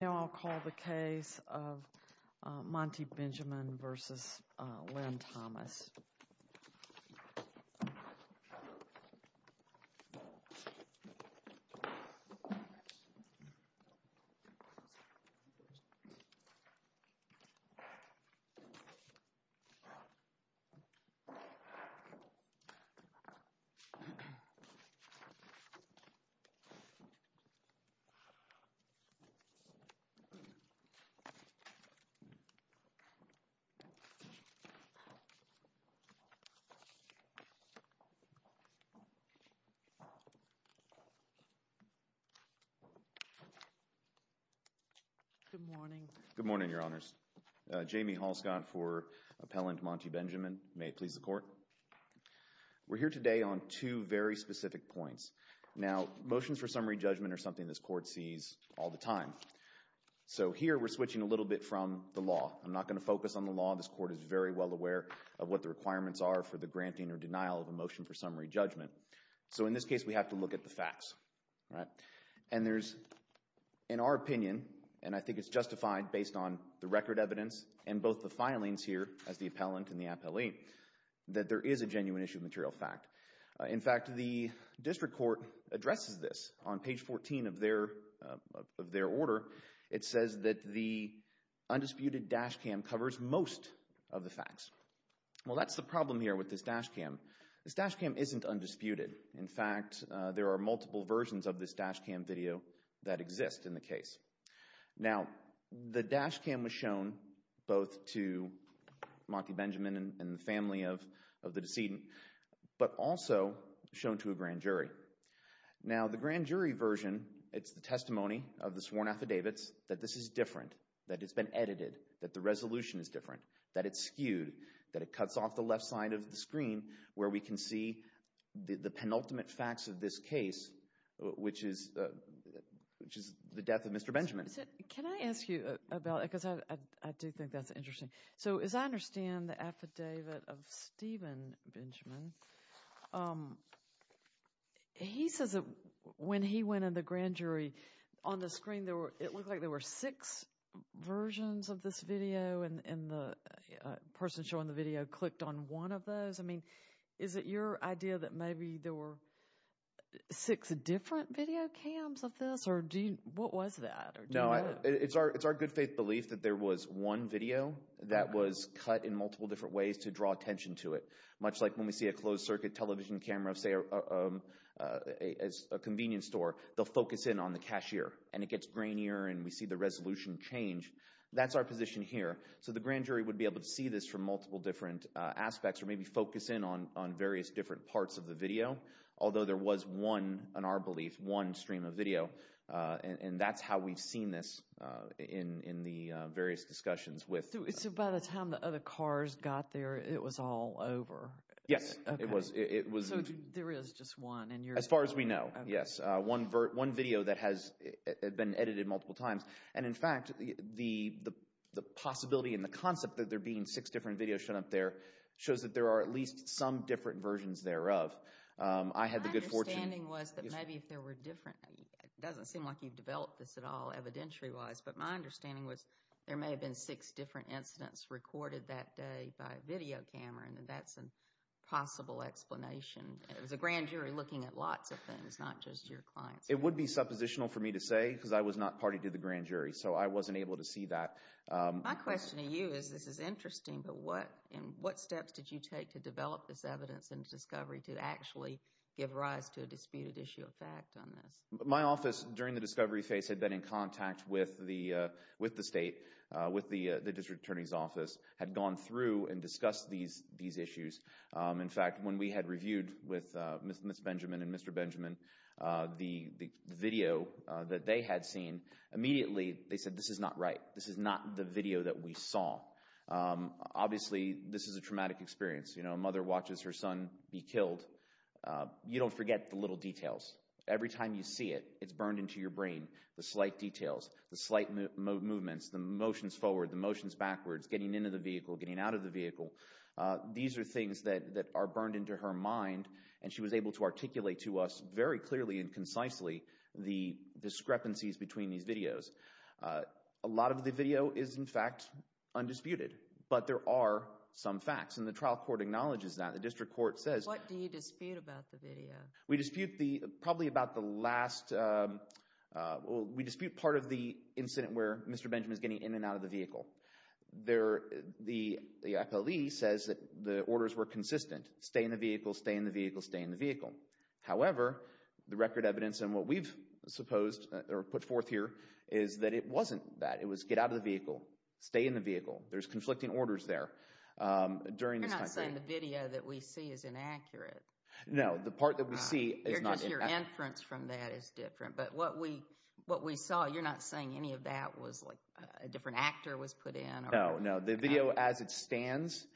Now I'll call the case of Montye Benjamin v. Lynn Thomas. Good morning, Your Honors. Jamie Hall-Scott for Appellant Montye Benjamin. May it please the Court. We're here today on two very specific points. Now, motions for summary judgment are something this Court sees all the time. So here we're switching a little bit from the law. I'm not going to focus on the law. This Court is very well aware of what the requirements are for the granting or denial of a motion for summary judgment. So in this case we have to look at the facts, right? And there's, in our opinion, and I think it's justified based on the record evidence and both the filings here as the appellant and the appellee, that there is a genuine issue of material fact. In fact, the District Court addresses this on page 14 of their order. It says that the undisputed dashcam covers most of the facts. Well, that's the problem here with this dashcam. This dashcam isn't undisputed. In fact, there are multiple versions of this dashcam video that exist in the case. Now, the dashcam was shown both to Monty Benjamin and the family of the decedent, but also shown to a grand jury. Now, the grand jury version, it's the testimony of the sworn affidavits that this is different, that it's been edited, that the resolution is different, that it's skewed, that it cuts off the left side of the screen where we can see the penultimate facts of this case, which is the death of Mr. Benjamin. Can I ask you about it? Because I do think that's interesting. So, as I understand the affidavit of Stephen Benjamin, he says that when he went in the grand jury, on the screen, it looked like there were six versions of this video, and the person showing the video clicked on one of those. I mean, is it your idea that maybe there were six different video cams of this, or what was that? No, it's our good faith belief that there was one video that was cut in multiple different ways to draw attention to it, much like when we see a closed-circuit television camera, say, at a convenience store. They'll focus in on the cashier, and it gets grainier, and we see the resolution change. That's our position here. So the grand jury would be able to see this from multiple different aspects or maybe focus in on various different parts of the video, although there was one, in our belief, one stream of video, and that's how we've seen this in the various discussions with— So by the time the other cars got there, it was all over? Yes, it was. So there is just one, and you're— As far as we know, yes. One video that has been edited multiple times, and in fact, the possibility and the concept that there being six different videos shown up there shows that there are at least some different versions thereof. I had the good fortune— My understanding was that maybe if there were different—it doesn't seem like you've developed this at all evidentiary-wise, but my understanding was there may have been six different incidents recorded that day by a video camera, and that's a possible explanation. It was a grand jury looking at lots of things, not just your clients. It would be suppositional for me to say because I was not party to the grand jury, so I wasn't able to see that. My question to you is this is interesting, but what steps did you take to develop this evidence and discovery to actually give rise to a disputed issue of fact on this? My office during the discovery phase had been in contact with the state, with the district attorney's office, had gone through and discussed these issues. In fact, when we had reviewed with Ms. Benjamin and Mr. Benjamin the video that they had seen, immediately they said this is not right. This is not the video that we saw. Obviously, this is a traumatic experience. A mother watches her son be killed. You don't forget the little details. Every time you see it, it's burned into your brain, the slight details, the slight movements, the motions forward, the motions backwards, getting into the vehicle, getting out of the vehicle. These are things that are burned into her mind, and she was able to articulate to us very clearly and concisely the discrepancies between these videos. A lot of the video is, in fact, undisputed, but there are some facts, and the trial court acknowledges that. The district court says— What do you dispute about the video? We dispute probably about the last—we dispute part of the incident where Mr. Benjamin is getting in and out of the vehicle. The FLE says that the orders were consistent, stay in the vehicle, stay in the vehicle, stay in the vehicle. However, the record evidence and what we've supposed or put forth here is that it wasn't that. It was get out of the vehicle, stay in the vehicle. There's conflicting orders there during this time period. You're not saying the video that we see is inaccurate. No, the part that we see is not inaccurate. Just your inference from that is different. But what we saw, you're not saying any of that was like a different actor was put in? No, no. The video as it stands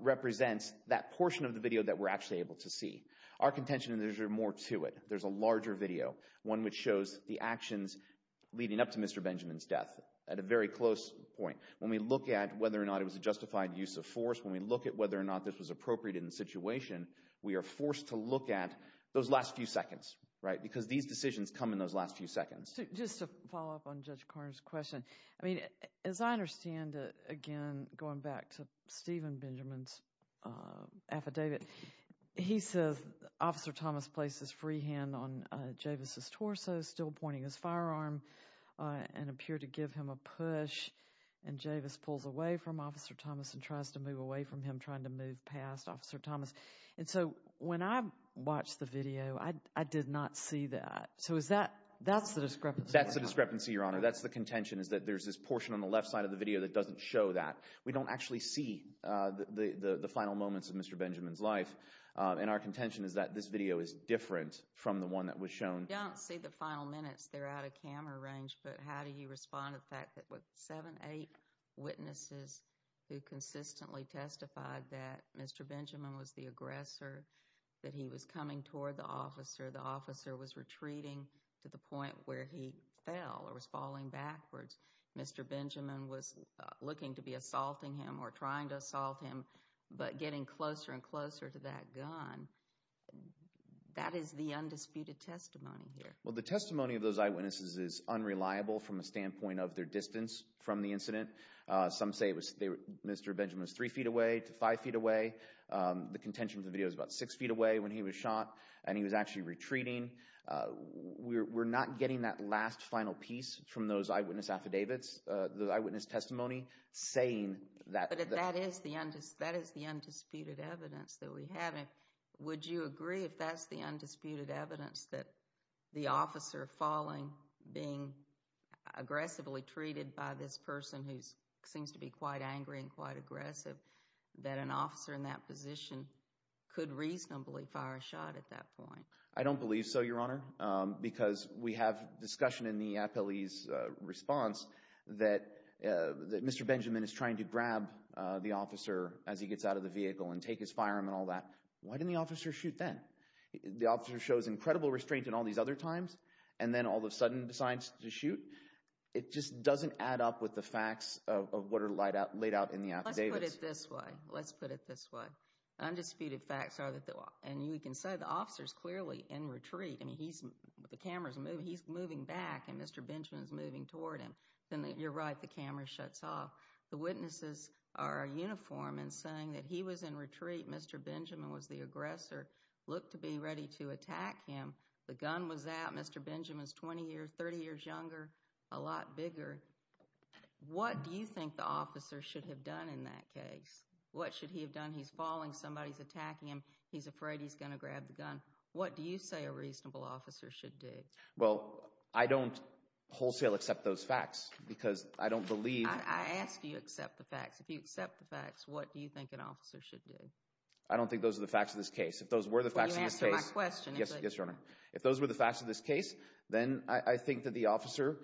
represents that portion of the video that we're actually able to see. Our contention is there's more to it. There's a larger video, one which shows the actions leading up to Mr. Benjamin's death at a very close point. When we look at whether or not it was a justified use of force, when we look at whether or not this was appropriate in the situation, we are forced to look at those last few seconds, right? Because these decisions come in those last few seconds. Just to follow up on Judge Carter's question, I mean, as I understand it, again, going back to Stephen Benjamin's affidavit, he says Officer Thomas placed his free hand on Javis' torso, still pointing his firearm, and appeared to give him a push. And Javis pulls away from Officer Thomas and tries to move away from him, trying to move past Officer Thomas. And so when I watched the video, I did not see that. So is that – that's the discrepancy? That's the discrepancy, Your Honor. That's the contention is that there's this portion on the left side of the video that doesn't show that. We don't actually see the final moments of Mr. Benjamin's life. And our contention is that this video is different from the one that was shown. We don't see the final minutes. They're out of camera range. But how do you respond to the fact that with seven, eight witnesses who consistently testified that Mr. Benjamin was the aggressor, that he was coming toward the officer, the officer was retreating to the point where he fell or was falling backwards, Mr. Benjamin was looking to be assaulting him or trying to assault him, but getting closer and closer to that gun, that is the undisputed testimony here. Well, the testimony of those eyewitnesses is unreliable from a standpoint of their distance from the incident. Some say Mr. Benjamin was three feet away to five feet away. The contention of the video is about six feet away when he was shot and he was actually retreating. We're not getting that last final piece from those eyewitness affidavits, the eyewitness testimony, saying that – But that is the undisputed evidence that we have. Would you agree if that's the undisputed evidence that the officer falling, being aggressively treated by this person, who seems to be quite angry and quite aggressive, that an officer in that position could reasonably fire a shot at that point? I don't believe so, Your Honor, because we have discussion in the appellee's response that Mr. Benjamin is trying to grab the officer as he gets out of the vehicle and take his firearm and all that. Why didn't the officer shoot then? The officer shows incredible restraint in all these other times, and then all of a sudden decides to shoot. It just doesn't add up with the facts of what are laid out in the affidavits. Let's put it this way. Let's put it this way. Undisputed facts are that – and you can say the officer is clearly in retreat. I mean, he's – the camera is moving. He's moving back, and Mr. Benjamin is moving toward him. You're right. The camera shuts off. The witnesses are uniform in saying that he was in retreat. Mr. Benjamin was the aggressor, looked to be ready to attack him. The gun was out. Mr. Benjamin is 20 years, 30 years younger, a lot bigger. What do you think the officer should have done in that case? What should he have done? He's falling. Somebody's attacking him. He's afraid he's going to grab the gun. What do you say a reasonable officer should do? Well, I don't wholesale accept those facts because I don't believe – I ask you accept the facts. If you accept the facts, what do you think an officer should do? I don't think those are the facts of this case. If those were the facts of this case – Well, you answered my question. Yes, Your Honor. If those were the facts of this case, then I think that the officer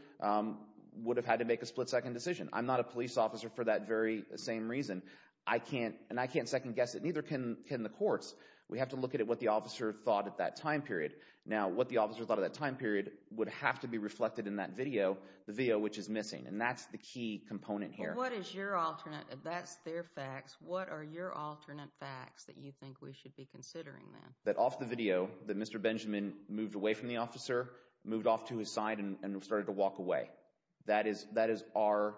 would have had to make a split-second decision. I'm not a police officer for that very same reason. I can't – and I can't second-guess it, neither can the courts. We have to look at what the officer thought at that time period. Now, what the officer thought at that time period would have to be reflected in that video, the video which is missing. And that's the key component here. Well, what is your alternate – that's their facts. What are your alternate facts that you think we should be considering then? That off the video, that Mr. Benjamin moved away from the officer, moved off to his side, and started to walk away. That is our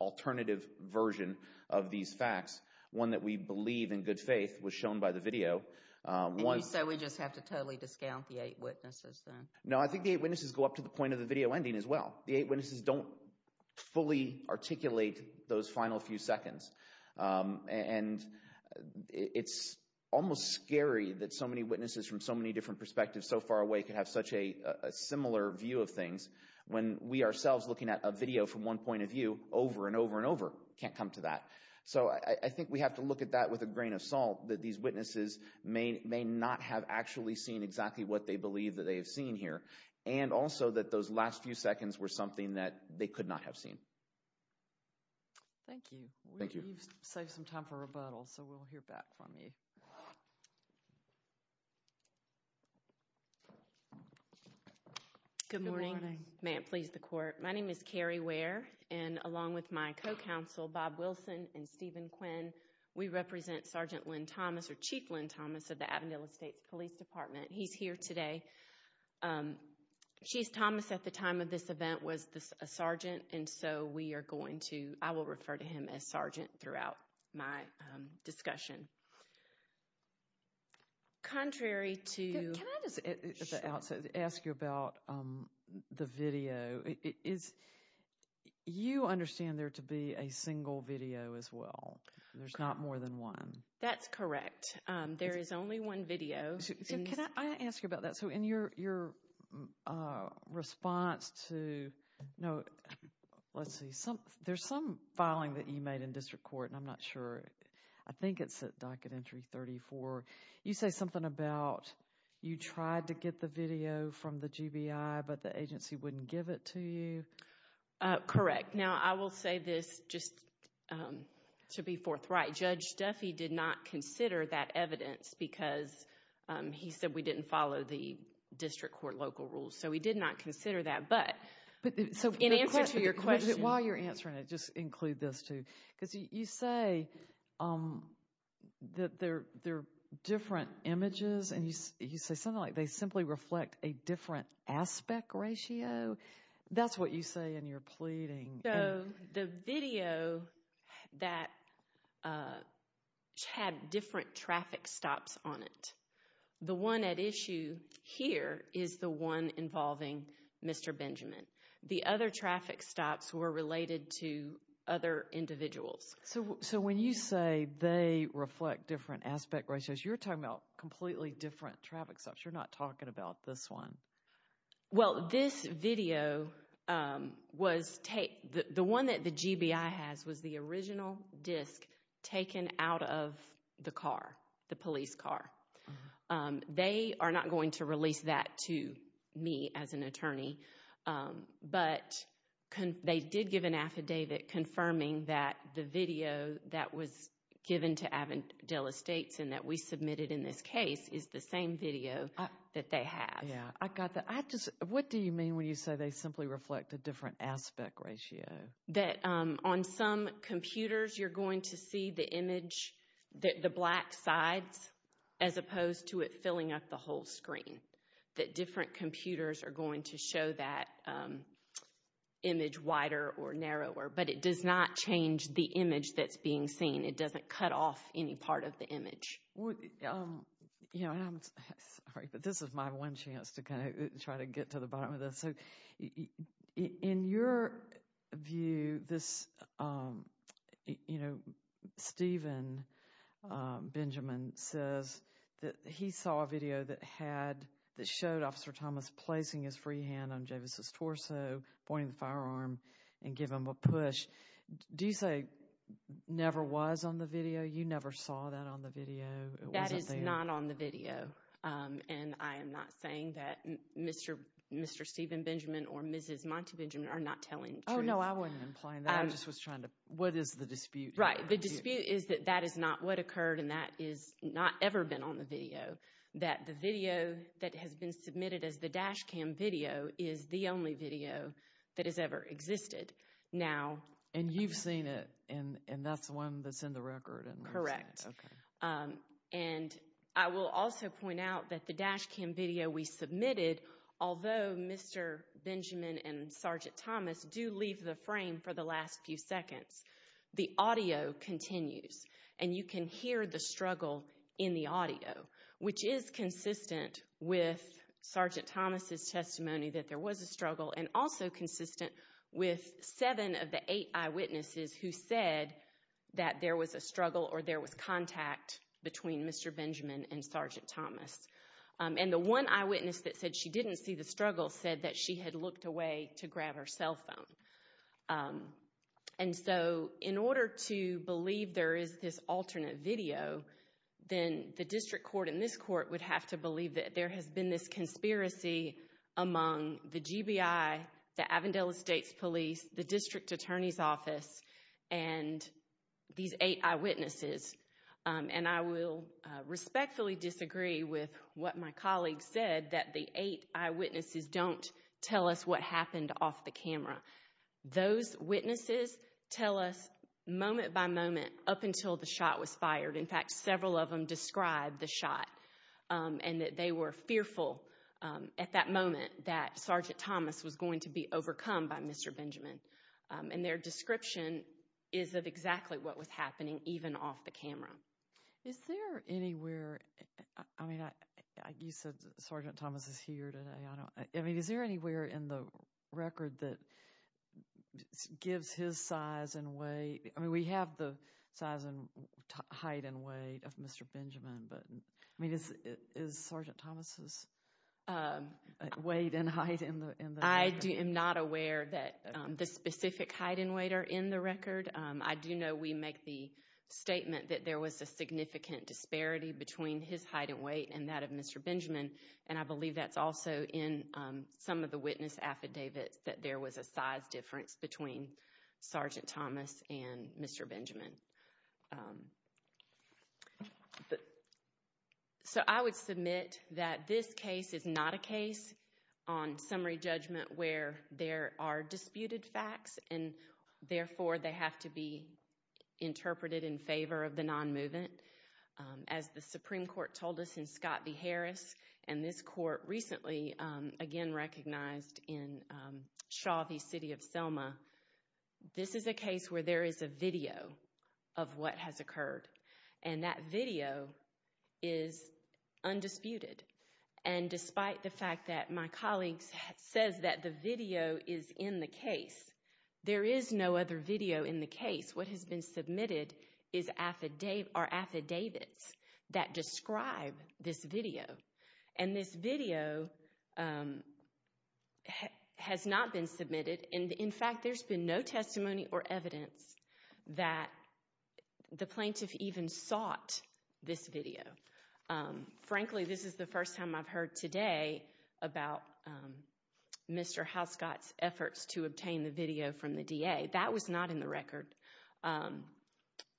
alternative version of these facts. One that we believe in good faith was shown by the video. And you say we just have to totally discount the eight witnesses then? No, I think the eight witnesses go up to the point of the video ending as well. The eight witnesses don't fully articulate those final few seconds. And it's almost scary that so many witnesses from so many different perspectives so far away could have such a similar view of things when we ourselves, looking at a video from one point of view over and over and over, can't come to that. So I think we have to look at that with a grain of salt that these witnesses may not have actually seen exactly what they believe that they have seen here. And also that those last few seconds were something that they could not have seen. Thank you. Thank you. You've saved some time for rebuttal, so we'll hear back from you. Good morning. May it please the Court. My name is Carrie Ware, and along with my co-counsel Bob Wilson and Stephen Quinn, we represent Sergeant Lynn Thomas, or Chief Lynn Thomas, of the Avondale Estates Police Department. He's here today. Chief Thomas at the time of this event was a sergeant, and so we are going to—I will refer to him as sergeant throughout my discussion. Contrary to— You understand there to be a single video as well. There's not more than one. That's correct. There is only one video. Can I ask you about that? So in your response to— Let's see. There's some filing that you made in district court, and I'm not sure. I think it's at Docket Entry 34. You say something about you tried to get the video from the GBI, but the agency wouldn't give it to you. Correct. Now, I will say this just to be forthright. Judge Duffy did not consider that evidence because he said we didn't follow the district court local rules, so we did not consider that, but in answer to your question— And you say something like they simply reflect a different aspect ratio. That's what you say in your pleading. So the video that had different traffic stops on it, the one at issue here is the one involving Mr. Benjamin. The other traffic stops were related to other individuals. So when you say they reflect different aspect ratios, you're talking about completely different traffic stops. You're not talking about this one. Well, this video was—the one that the GBI has was the original disc taken out of the car, the police car. They are not going to release that to me as an attorney, but they did give an affidavit confirming that the video that was given to Avondale Estates and that we submitted in this case is the same video that they have. Yeah, I got that. What do you mean when you say they simply reflect a different aspect ratio? That on some computers, you're going to see the image, the black sides, as opposed to it filling up the whole screen. That different computers are going to show that image wider or narrower, but it does not change the image that's being seen. It doesn't cut off any part of the image. I'm sorry, but this is my one chance to kind of try to get to the bottom of this. In your view, Stephen Benjamin says that he saw a video that showed Officer Thomas placing his free hand on Javis' torso, pointing the firearm, and give him a push. Do you say never was on the video? You never saw that on the video? That is not on the video, and I am not saying that Mr. Stephen Benjamin or Mrs. Monty Benjamin are not telling the truth. Oh, no, I wasn't implying that. I just was trying to—what is the dispute? Right, the dispute is that that is not what occurred and that has not ever been on the video, that the video that has been submitted as the dash cam video is the only video that has ever existed. And you've seen it, and that's the one that's in the record? Correct. Okay. And I will also point out that the dash cam video we submitted, although Mr. Benjamin and Sergeant Thomas do leave the frame for the last few seconds, the audio continues, and you can hear the struggle in the audio, which is consistent with Sergeant Thomas' testimony that there was a struggle and also consistent with seven of the eight eyewitnesses who said that there was a struggle or there was contact between Mr. Benjamin and Sergeant Thomas. And the one eyewitness that said she didn't see the struggle said that she had looked away to grab her cell phone. And so in order to believe there is this alternate video, then the district court and this court would have to believe that there has been this conspiracy among the GBI, the Avondale Estates Police, the district attorney's office, and these eight eyewitnesses. And I will respectfully disagree with what my colleague said, that the eight eyewitnesses don't tell us what happened off the camera. Those witnesses tell us moment by moment up until the shot was fired. In fact, several of them described the shot and that they were fearful at that moment that Sergeant Thomas was going to be overcome by Mr. Benjamin. And their description is of exactly what was happening even off the camera. Is there anywhere—I mean, you said Sergeant Thomas is here today. I mean, is there anywhere in the record that gives his size and weight— I mean, we have the size and height and weight of Mr. Benjamin, but I mean, is Sergeant Thomas' weight and height in the record? I am not aware that the specific height and weight are in the record. I do know we make the statement that there was a significant disparity between his height and weight and that of Mr. Benjamin, and I believe that's also in some of the witness affidavits, that there was a size difference between Sergeant Thomas and Mr. Benjamin. So I would submit that this case is not a case on summary judgment where there are disputed facts, and therefore they have to be interpreted in favor of the nonmovement. As the Supreme Court told us in Scott v. Harris, and this court recently again recognized in Shaw v. City of Selma, this is a case where there is a video of what has occurred, and that video is undisputed. And despite the fact that my colleague says that the video is in the case, there is no other video in the case. What has been submitted are affidavits that describe this video, and this video has not been submitted. In fact, there's been no testimony or evidence that the plaintiff even sought this video. Frankly, this is the first time I've heard today about Mr. Houscott's efforts to obtain the video from the DA. That was not in the record.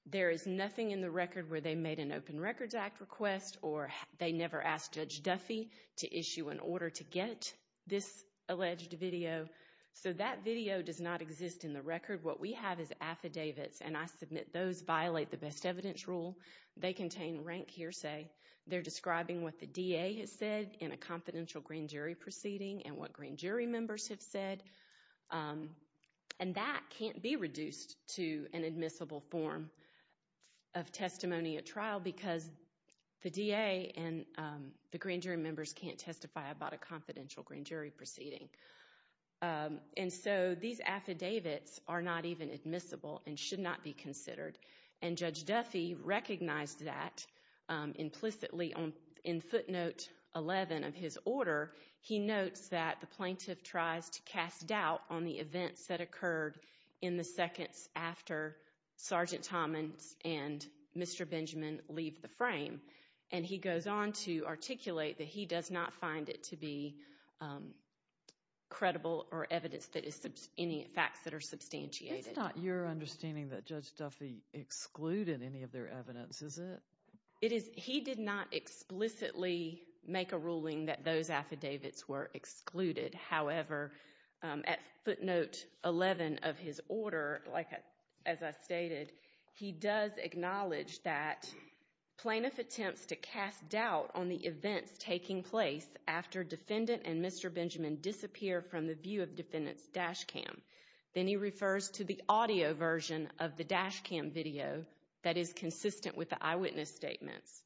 There is nothing in the record where they made an Open Records Act request or they never asked Judge Duffy to issue an order to get this alleged video. So that video does not exist in the record. What we have is affidavits, and I submit those violate the best evidence rule. They contain rank hearsay. They're describing what the DA has said in a confidential green jury proceeding and what green jury members have said. And that can't be reduced to an admissible form of testimony at trial because the DA and the green jury members can't testify about a confidential green jury proceeding. And so these affidavits are not even admissible and should not be considered, and Judge Duffy recognized that implicitly in footnote 11 of his order. He notes that the plaintiff tries to cast doubt on the events that occurred in the seconds after Sergeant Tommins and Mr. Benjamin leave the frame, and he goes on to articulate that he does not find it to be credible or evidence that is any facts that are substantiated. It's not your understanding that Judge Duffy excluded any of their evidence, is it? He did not explicitly make a ruling that those affidavits were excluded. However, at footnote 11 of his order, as I stated, he does acknowledge that plaintiff attempts to cast doubt on the events taking place after defendant and Mr. Benjamin disappear from the view of defendant's dash cam. Then he refers to the audio version of the dash cam video that is consistent with the eyewitness statements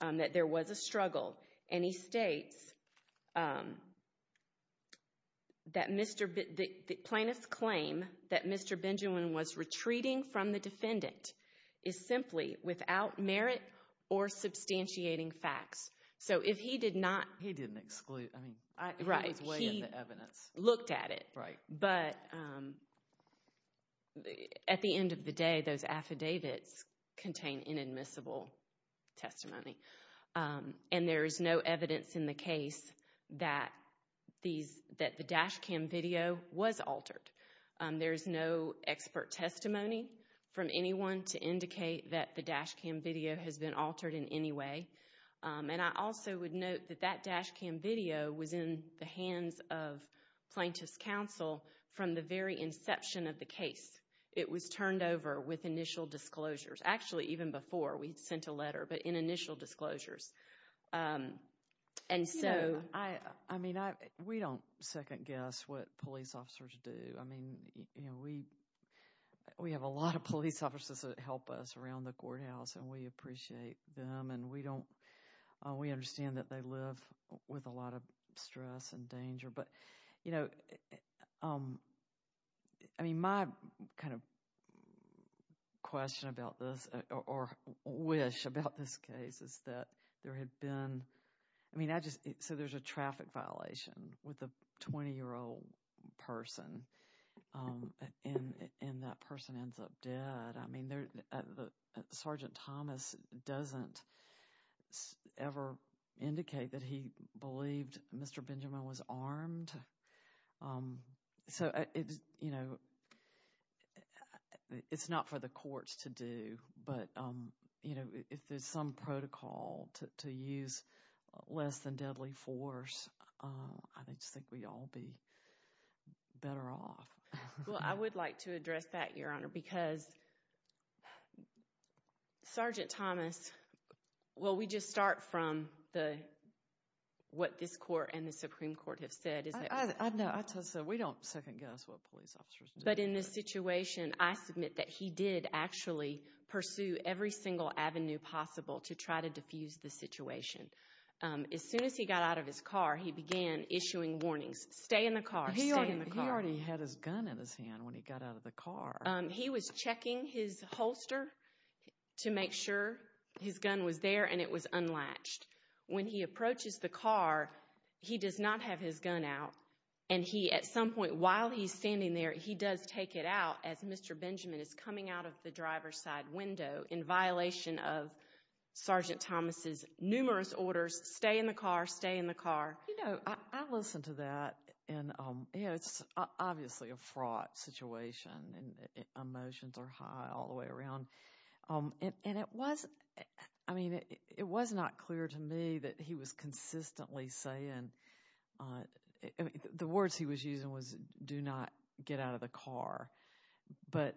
that there was a struggle, and he states that the plaintiff's claim that Mr. Benjamin was retreating from the defendant is simply without merit or substantiating facts. So if he did not— He didn't exclude—I mean, he was weighing the evidence. He looked at it, but at the end of the day, those affidavits contain inadmissible testimony, and there is no evidence in the case that the dash cam video was altered. There is no expert testimony from anyone to indicate that the dash cam video has been altered in any way, and I also would note that that dash cam video was in the hands of plaintiff's counsel from the very inception of the case. It was turned over with initial disclosures. Actually, even before we sent a letter, but in initial disclosures. And so— I mean, we don't second guess what police officers do. I mean, we have a lot of police officers that help us around the courthouse, and we appreciate them, and we don't— we understand that they live with a lot of stress and danger, but, you know, I mean, my kind of question about this or wish about this case is that there had been— I mean, I just—so there's a traffic violation with a 20-year-old person, and that person ends up dead. I mean, Sergeant Thomas doesn't ever indicate that he believed Mr. Benjamin was armed. So, you know, it's not for the courts to do, but, you know, if there's some protocol to use less than deadly force, I just think we'd all be better off. Well, I would like to address that, Your Honor, because Sergeant Thomas— well, we just start from what this court and the Supreme Court have said. I know. I just said we don't second guess what police officers do. But in this situation, I submit that he did actually pursue every single avenue possible to try to defuse the situation. As soon as he got out of his car, he began issuing warnings, stay in the car, stay in the car. He already had his gun in his hand when he got out of the car. He was checking his holster to make sure his gun was there and it was unlatched. When he approaches the car, he does not have his gun out, and he, at some point while he's standing there, he does take it out as Mr. Benjamin is coming out of the driver's side window in violation of Sergeant Thomas's numerous orders, stay in the car, stay in the car. You know, I listened to that, and, you know, it's obviously a fraught situation and emotions are high all the way around. And it was—I mean, it was not clear to me that he was consistently saying— the words he was using was, do not get out of the car. But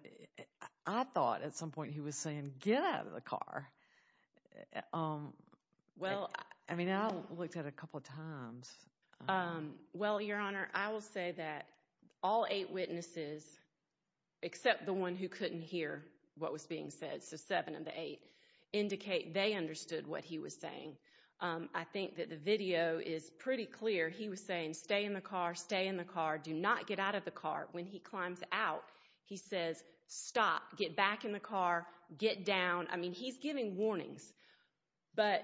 I thought at some point he was saying, get out of the car. Well, I mean, I looked at it a couple of times. Well, Your Honor, I will say that all eight witnesses, except the one who couldn't hear what was being said, so seven of the eight, indicate they understood what he was saying. I think that the video is pretty clear. He was saying, stay in the car, stay in the car, do not get out of the car. When he climbs out, he says, stop, get back in the car, get down. I mean, he's giving warnings, but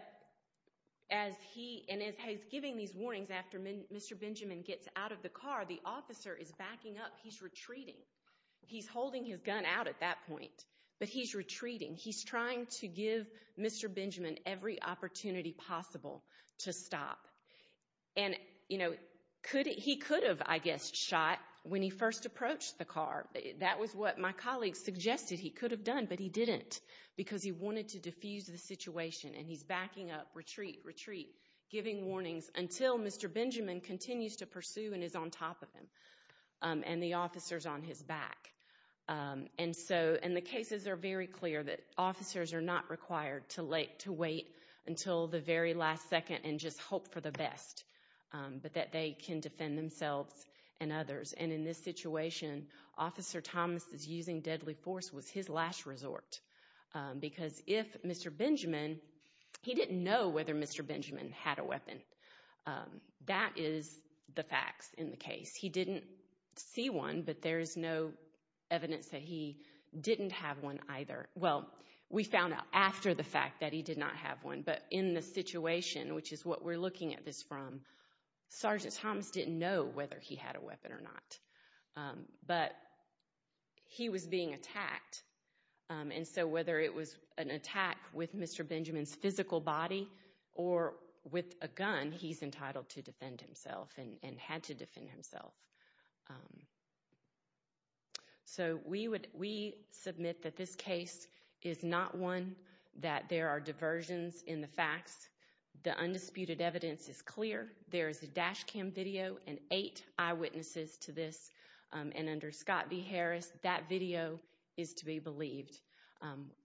as he—and as he's giving these warnings, after Mr. Benjamin gets out of the car, the officer is backing up. He's retreating. He's holding his gun out at that point, but he's retreating. He's trying to give Mr. Benjamin every opportunity possible to stop. And, you know, he could have, I guess, shot when he first approached the car. That was what my colleague suggested he could have done, but he didn't, because he wanted to diffuse the situation, and he's backing up, retreat, retreat, giving warnings until Mr. Benjamin continues to pursue and is on top of him and the officer is on his back. And so—and the cases are very clear that officers are not required to wait until the very last second and just hope for the best, but that they can defend themselves and others. And in this situation, Officer Thomas's using deadly force was his last resort, because if Mr. Benjamin—he didn't know whether Mr. Benjamin had a weapon. That is the facts in the case. He didn't see one, but there is no evidence that he didn't have one either. Well, we found out after the fact that he did not have one, but in the situation, which is what we're looking at this from, Sergeant Thomas didn't know whether he had a weapon or not, but he was being attacked. And so whether it was an attack with Mr. Benjamin's physical body or with a gun, he's entitled to defend himself and had to defend himself. So we submit that this case is not one that there are diversions in the facts. The undisputed evidence is clear. There is a dash cam video and eight eyewitnesses to this. And under Scott v. Harris, that video is to be believed.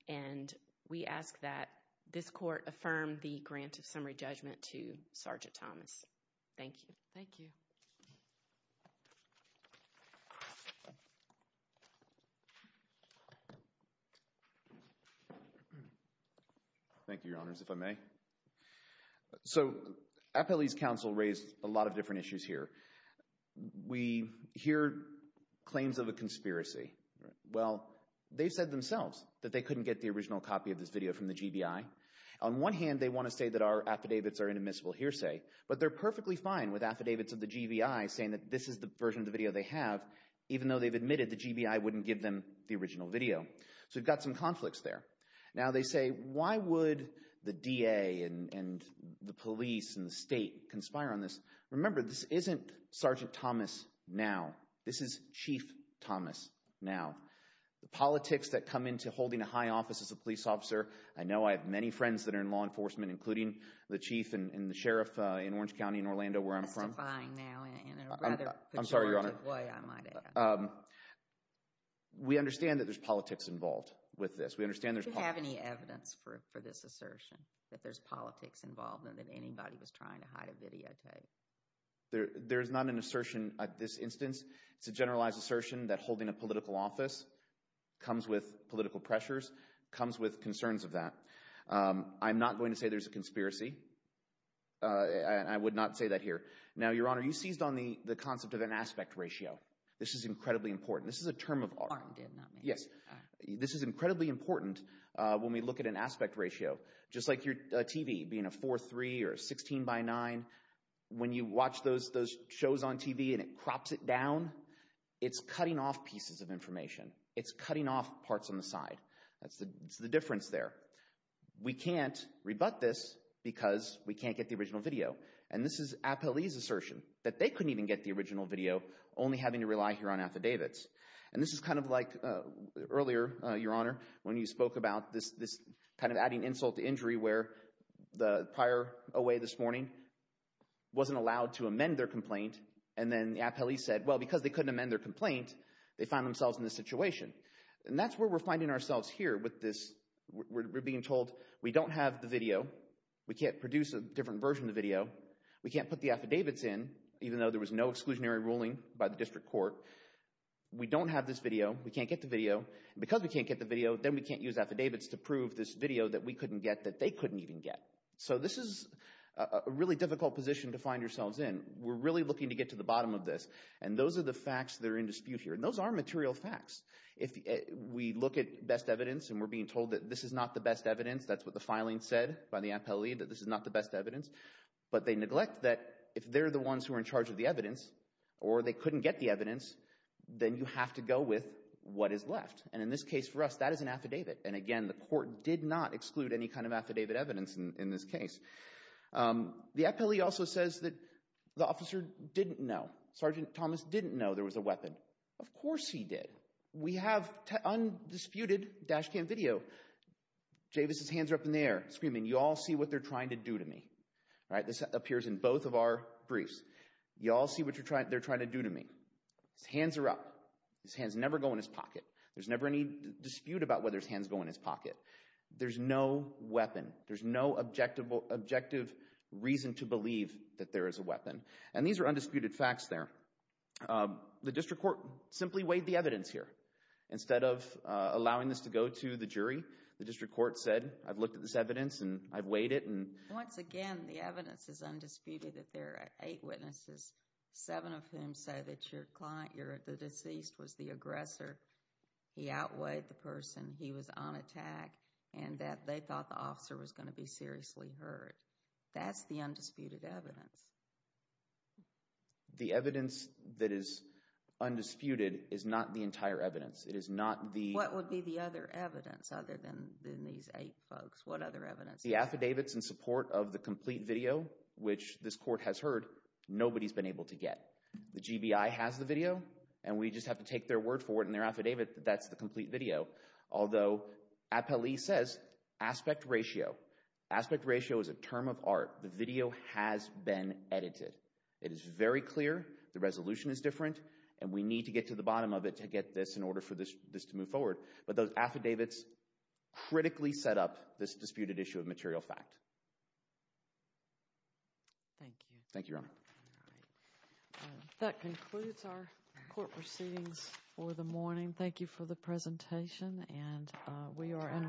And we ask that this court affirm the grant of summary judgment to Sergeant Thomas. Thank you. Thank you. Thank you. Thank you, Your Honors, if I may. So Appellee's Counsel raised a lot of different issues here. We hear claims of a conspiracy. Well, they said themselves that they couldn't get the original copy of this video from the GBI. On one hand, they want to say that our affidavits are an admissible hearsay, but they're perfectly fine with affidavits of the GBI saying that this is the version of the video they have, even though they've admitted the GBI wouldn't give them the original video. So we've got some conflicts there. Now they say, why would the DA and the police and the state conspire on this? Remember, this isn't Sergeant Thomas now. This is Chief Thomas now. The politics that come into holding a high office as a police officer, I know I have many friends that are in law enforcement, including the chief and the sheriff in Orange County in Orlando where I'm from. Testifying now in a rather pejorative way, I might add. I'm sorry, Your Honor. We understand that there's politics involved with this. Do you have any evidence for this assertion, that there's politics involved and that anybody was trying to hide a videotape? There is not an assertion at this instance. It's a generalized assertion that holding a political office comes with political pressures, comes with concerns of that. I'm not going to say there's a conspiracy. I would not say that here. Now, Your Honor, you seized on the concept of an aspect ratio. This is incredibly important. This is a term of art. Yes. This is incredibly important when we look at an aspect ratio. Just like your TV being a 4.3 or a 16x9, when you watch those shows on TV and it crops it down, it's cutting off pieces of information. It's cutting off parts on the side. That's the difference there. We can't rebut this because we can't get the original video. And this is Appellee's assertion, that they couldn't even get the original video, only having to rely here on affidavits. And this is kind of like earlier, Your Honor, when you spoke about this kind of adding insult to injury where the prior OA this morning wasn't allowed to amend their complaint, and then Appellee said, well, because they couldn't amend their complaint, they found themselves in this situation. And that's where we're finding ourselves here with this. We're being told we don't have the video. We can't produce a different version of the video. We can't put the affidavits in, even though there was no exclusionary ruling by the district court. We don't have this video. We can't get the video. And because we can't get the video, then we can't use affidavits to prove this video that we couldn't get that they couldn't even get. So this is a really difficult position to find yourselves in. And we're really looking to get to the bottom of this. And those are the facts that are in dispute here. And those are material facts. If we look at best evidence and we're being told that this is not the best evidence, that's what the filing said by the Appellee, that this is not the best evidence, but they neglect that if they're the ones who are in charge of the evidence or they couldn't get the evidence, then you have to go with what is left. And in this case for us, that is an affidavit. And, again, the court did not exclude any kind of affidavit evidence in this case. The Appellee also says that the officer didn't know. Sergeant Thomas didn't know there was a weapon. Of course he did. We have undisputed dash cam video. Javis's hands are up in the air screaming, You all see what they're trying to do to me. This appears in both of our briefs. You all see what they're trying to do to me. His hands are up. His hands never go in his pocket. There's never any dispute about whether his hands go in his pocket. There's no weapon. There's no objective reason to believe that there is a weapon. And these are undisputed facts there. The district court simply weighed the evidence here. Instead of allowing this to go to the jury, the district court said, I've looked at this evidence and I've weighed it. Once again, the evidence is undisputed that there are eight witnesses, seven of whom say that your client, the deceased, was the aggressor. He outweighed the person. He was on attack and that they thought the officer was going to be seriously hurt. That's the undisputed evidence. The evidence that is undisputed is not the entire evidence. It is not the What would be the other evidence other than these eight folks? What other evidence? The affidavits in support of the complete video, which this court has heard, nobody's been able to get. The GBI has the video, and we just have to take their word for it in their affidavit that that's the complete video. Although, APLE says aspect ratio. Aspect ratio is a term of art. The video has been edited. It is very clear. The resolution is different, and we need to get to the bottom of it to get this in order for this to move forward. But those affidavits critically set up this disputed issue of material fact. Thank you. Thank you, Your Honor. That concludes our court proceedings for the morning. Thank you for the presentation, and we are in recess.